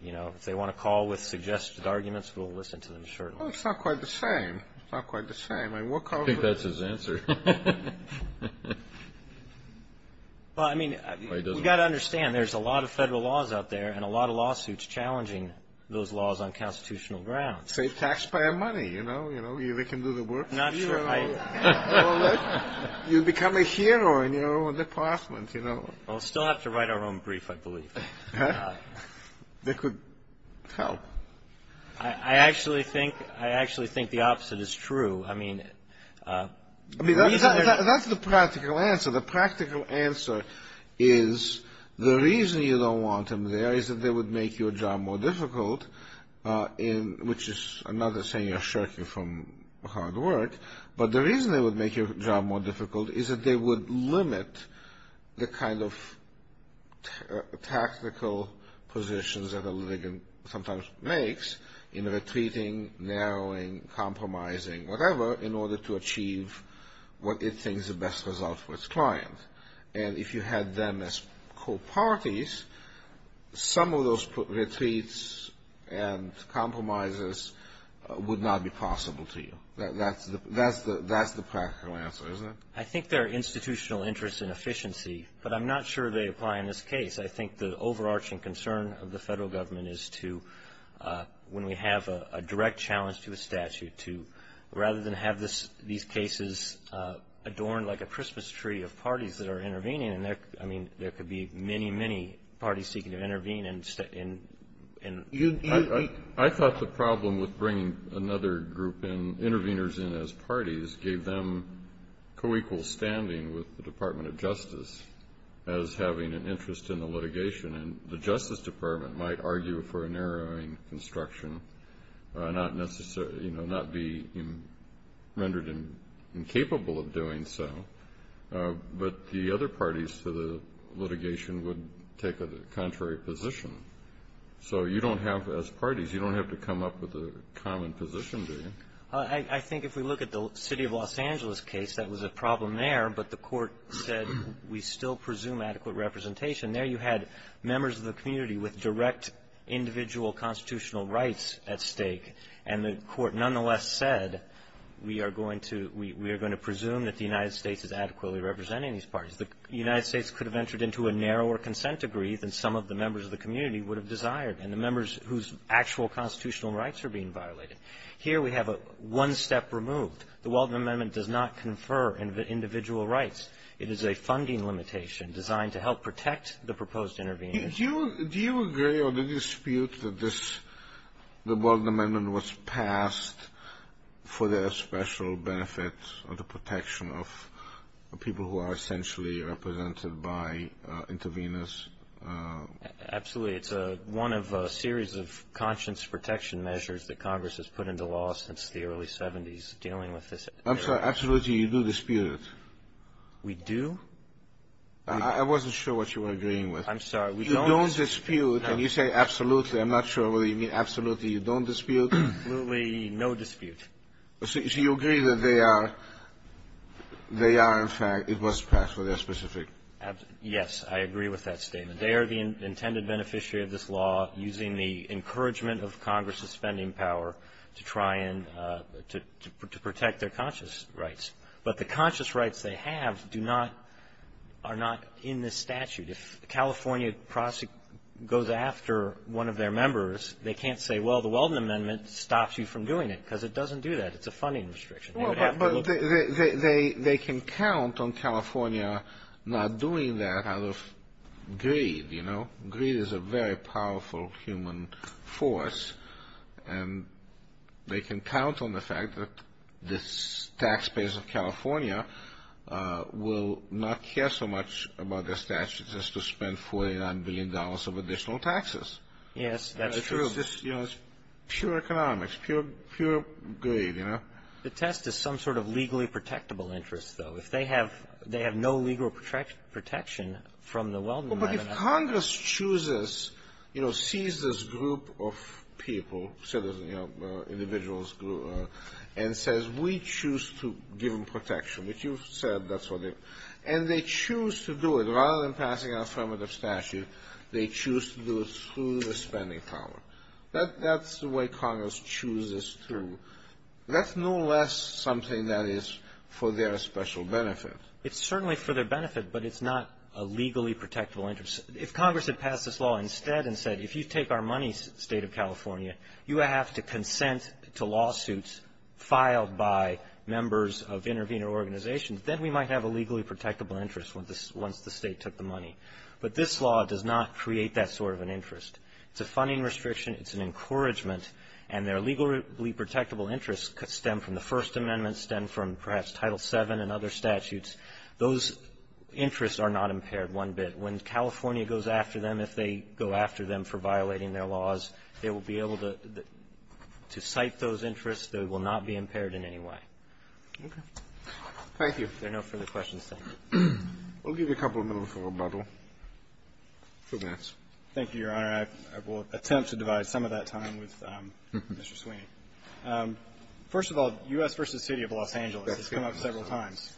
you know, if they want to call with suggested arguments, we'll listen to them shortly. Well, it's not quite the same. It's not quite the same. I mean, we'll call – I think that's his answer. Well, I mean, you've got to understand, there's a lot of Federal laws out there and a lot of lawsuits challenging those laws on constitutional grounds. Say taxpayer money, you know. You know, they can do the work for you. I'm not sure I – Well, look, you become a hero in your own department, you know. We'll still have to write our own brief, I believe. That could help. I actually think – I actually think the opposite is true. I mean, the reason – I mean, that's the practical answer. The practical answer is the reason you don't want them there is that they would make your job more difficult, which is another saying of shirking from hard work. But the reason they would make your job more difficult is that they would limit the kind of tactical positions that a litigant sometimes makes in retreating, narrowing, compromising, whatever, in order to achieve what it thinks is the best result for its client. And if you had them as co-parties, some of those retreats and compromises would not be possible to you. That's the practical answer, isn't it? I think there are institutional interests in efficiency, but I'm not sure they apply in this case. I think the overarching concern of the Federal Government is to, when we have a direct challenge to a statute, rather than have these cases adorned like a Christmas tree of parties that are intervening. I mean, there could be many, many parties seeking to intervene. I thought the problem with bringing another group in, interveners in as parties, gave them co-equal standing with the Department of Justice as having an interest in the litigation. And the Justice Department might argue for a narrowing construction, not necessarily, you know, not be rendered incapable of doing so, but the other parties to the litigation would take a contrary position. So you don't have, as parties, you don't have to come up with a common position, do you? I think if we look at the city of Los Angeles case, that was a problem there, but the court said we still presume adequate representation. There you had members of the community with direct individual constitutional rights at stake, and the court nonetheless said we are going to presume that the United States is adequately representing these parties. The United States could have entered into a narrower consent agree than some of the members of the community would have desired, and the members whose actual constitutional rights are being violated. Here we have one step removed. The Walden Amendment does not confer individual rights. It is a funding limitation designed to help protect the proposed intervenors. Do you agree or do you dispute that this, the Walden Amendment was passed for the special benefit of the protection of people who are essentially represented by intervenors? Absolutely. It's one of a series of conscience protection measures that Congress has put into law since the early 70s dealing with this area. I'm sorry. Absolutely, you do dispute it. We do? I wasn't sure what you were agreeing with. I'm sorry. We don't dispute. You don't dispute, and you say absolutely. I'm not sure whether you mean absolutely you don't dispute. Absolutely no dispute. So you agree that they are in fact, it was passed for their specific. Yes. I agree with that statement. They are the intended beneficiary of this law using the encouragement of Congress's conscience rights. But the conscience rights they have do not, are not in this statute. If a California prosecutor goes after one of their members, they can't say, well, the Walden Amendment stops you from doing it because it doesn't do that. It's a funding restriction. But they can count on California not doing that out of greed, you know. Greed is a very powerful human force. And they can count on the fact that the taxpayers of California will not care so much about their statutes as to spend $49 billion of additional taxes. Yes, that is true. It's pure economics, pure greed, you know. The test is some sort of legally protectable interest, though. If they have no legal protection from the Walden Amendment. But if Congress chooses, you know, sees this group of people, citizens, you know, individuals and says, we choose to give them protection, which you've said that's what they, and they choose to do it. Rather than passing an affirmative statute, they choose to do it through the spending power. That's the way Congress chooses to. That's no less something that is for their special benefit. It's certainly for their benefit, but it's not a legally protectable interest. If Congress had passed this law instead and said, if you take our money, State of California, you have to consent to lawsuits filed by members of intervener organizations, then we might have a legally protectable interest once the State took the money. But this law does not create that sort of an interest. It's a funding restriction. It's an encouragement. And their legally protectable interest could stem from the First Amendment, stem from perhaps Title VII and other statutes. Those interests are not impaired one bit. When California goes after them, if they go after them for violating their laws, they will be able to cite those interests. They will not be impaired in any way. Kennedy. Thank you. If there are no further questions, thank you. We'll give you a couple of minutes for rebuttal. Two minutes. Thank you, Your Honor. I will attempt to divide some of that time with Mr. Sweeney. First of all, U.S. v. City of Los Angeles has come up several times.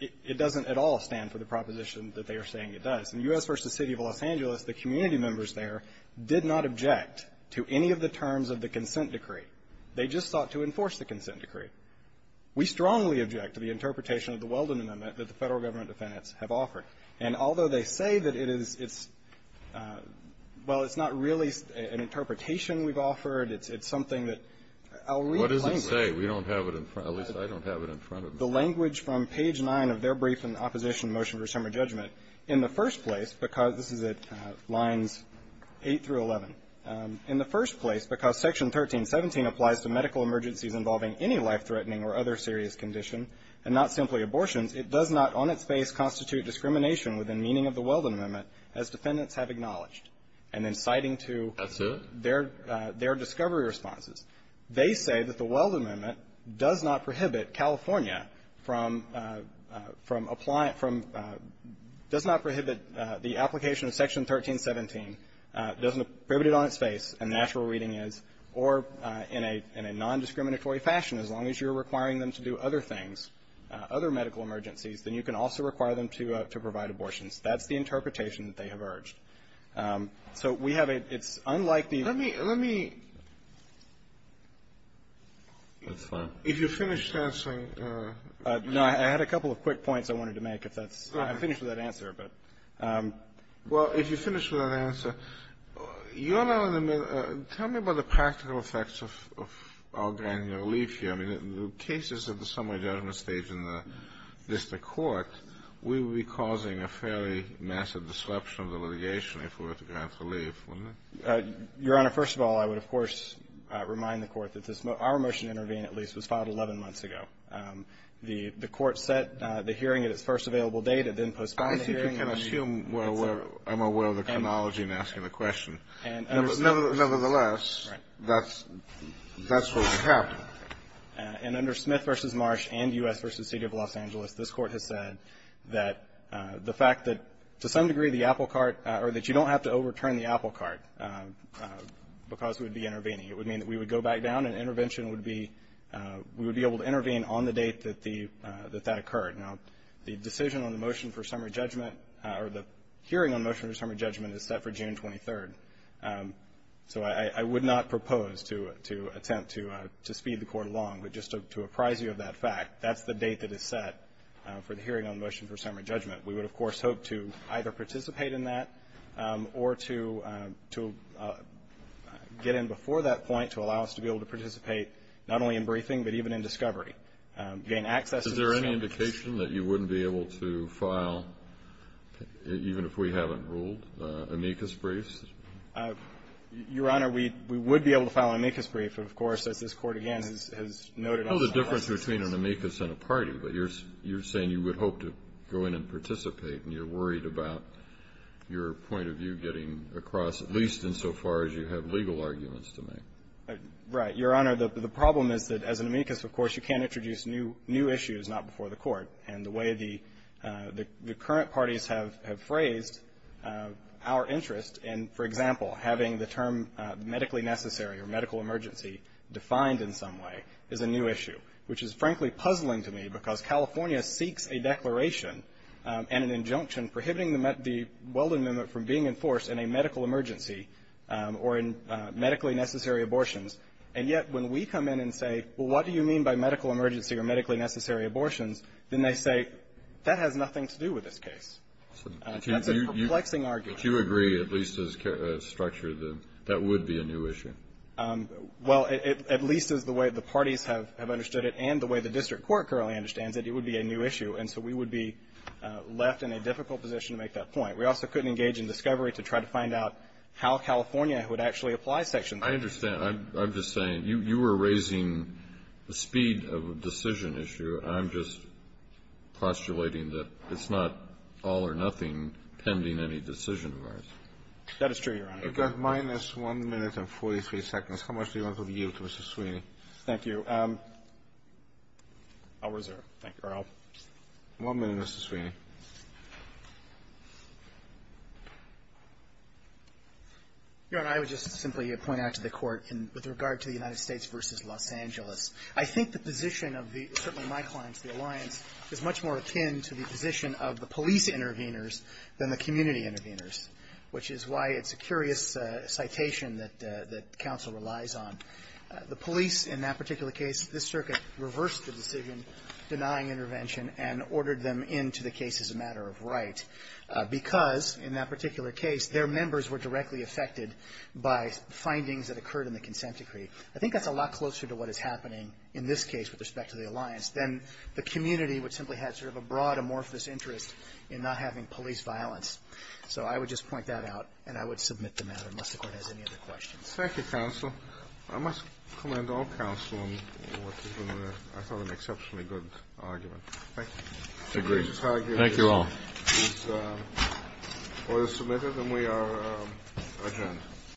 It doesn't at all stand for the proposition that they are saying it does. In U.S. v. City of Los Angeles, the community members there did not object to any of the terms of the consent decree. They just sought to enforce the consent decree. We strongly object to the interpretation of the Weldon Amendment that the Federal government defendants have offered. And although they say that it is its – well, it's not really an interpretation we've offered. It's something that I'll read plainly. What does it say? We don't have it in front – at least I don't have it in front of me. The language from page 9 of their brief in opposition to the motion for a summer judgment. In the first place, because – this is at lines 8 through 11. In the first place, because Section 1317 applies to medical emergencies involving any life-threatening or other serious condition, and not simply abortions, it does not on its face constitute discrimination within meaning of the Weldon Amendment as defendants have acknowledged. And in citing to their discovery responses, they say that the Weldon Amendment does not prohibit California from – does not prohibit the application of Section 1317, doesn't prohibit it on its face, and natural reading is, or in a non-discriminatory fashion, as long as you're requiring them to do other things, other medical emergencies, then you can also require them to provide abortions. That's the interpretation that they have urged. So we have a – it's unlike the – Let me – let me – That's fine. If you're finished answering – No, I had a couple of quick points I wanted to make if that's – I'm finished with that answer, but – Well, if you're finished with that answer, you're not on the – tell me about the practical effects of our granular relief here. I mean, the cases at the summer judgment stage in the district court, we would be under fairly massive disruption of the litigation if we were to grant relief, wouldn't we? Your Honor, first of all, I would, of course, remind the Court that this – our motion to intervene, at least, was filed 11 months ago. The Court set the hearing at its first available date and then postponed the hearing. I think you can assume we're – I'm aware of the chronology in asking the question. Nevertheless, that's what's happened. And under Smith v. Marsh and U.S. v. City of Los Angeles, this Court has said that the fact that, to some degree, the apple cart – or that you don't have to overturn the apple cart because we'd be intervening. It would mean that we would go back down and intervention would be – we would be able to intervene on the date that the – that that occurred. Now, the decision on the motion for summer judgment – or the hearing on motion for summer judgment is set for June 23rd. So I would not propose to attempt to speed the Court along. But just to apprise you of that fact, that's the date that is set for the hearing on motion for summer judgment. We would, of course, hope to either participate in that or to – to get in before that point to allow us to be able to participate not only in briefing but even in discovery. Gain access to the – Is there any indication that you wouldn't be able to file, even if we haven't ruled, amicus briefs? Your Honor, we would be able to file an amicus brief, of course, as this Court, again, has noted on – I know the difference between an amicus and a party, but you're – you're saying you would hope to go in and participate and you're worried about your point of view getting across, at least insofar as you have legal arguments to make. Right. Your Honor, the problem is that as an amicus, of course, you can't introduce new – new issues not before the Court. And the way the – the current parties have – have phrased our interest in, for example, having the term medically necessary or medical emergency defined in some way is a new issue, which is, frankly, puzzling to me because California seeks a declaration and an injunction prohibiting the – the Weldon Amendment from being enforced in a medical emergency or in medically necessary abortions. And yet, when we come in and say, well, what do you mean by medical emergency or medically necessary abortions, then they say, that has nothing to do with this case. That's a perplexing argument. But you agree, at least as a structure, that that would be a new issue? Well, at least as the way the parties have – have understood it and the way the district court currently understands it, it would be a new issue. And so we would be left in a difficult position to make that point. We also couldn't engage in discovery to try to find out how California would actually apply Section 5. I understand. I'm – I'm just saying, you – you were raising the speed of a decision issue. I'm just postulating that it's not all or nothing pending any decision of ours. That is true, Your Honor. You've got minus 1 minute and 43 seconds. How much do you want to yield to Mr. Sweeney? Thank you. I'll reserve. Thank you, Your Honor. One minute, Mr. Sweeney. Your Honor, I would just simply point out to the Court, with regard to the United States v. Los Angeles, I think the position of the – certainly my clients, the alliance, is much more akin to the position of the police intervenors than the community intervenors, which is why it's a curious citation that – that counsel relies on. The police, in that particular case – this Circuit reversed the decision denying intervention and ordered them into the case as a matter of right because, in that particular case, their members were directly affected by findings that occurred in the consent decree. I think that's a lot closer to what is happening in this case with respect to the alliance than the community, which simply had sort of a broad, amorphous interest in not having police violence. So I would just point that out, and I would submit the matter, unless the Court has any other questions. Thank you, counsel. I must commend all counsel on what has been, I thought, an exceptionally good argument. Thank you. Thank you all. This order is submitted, and we are adjourned.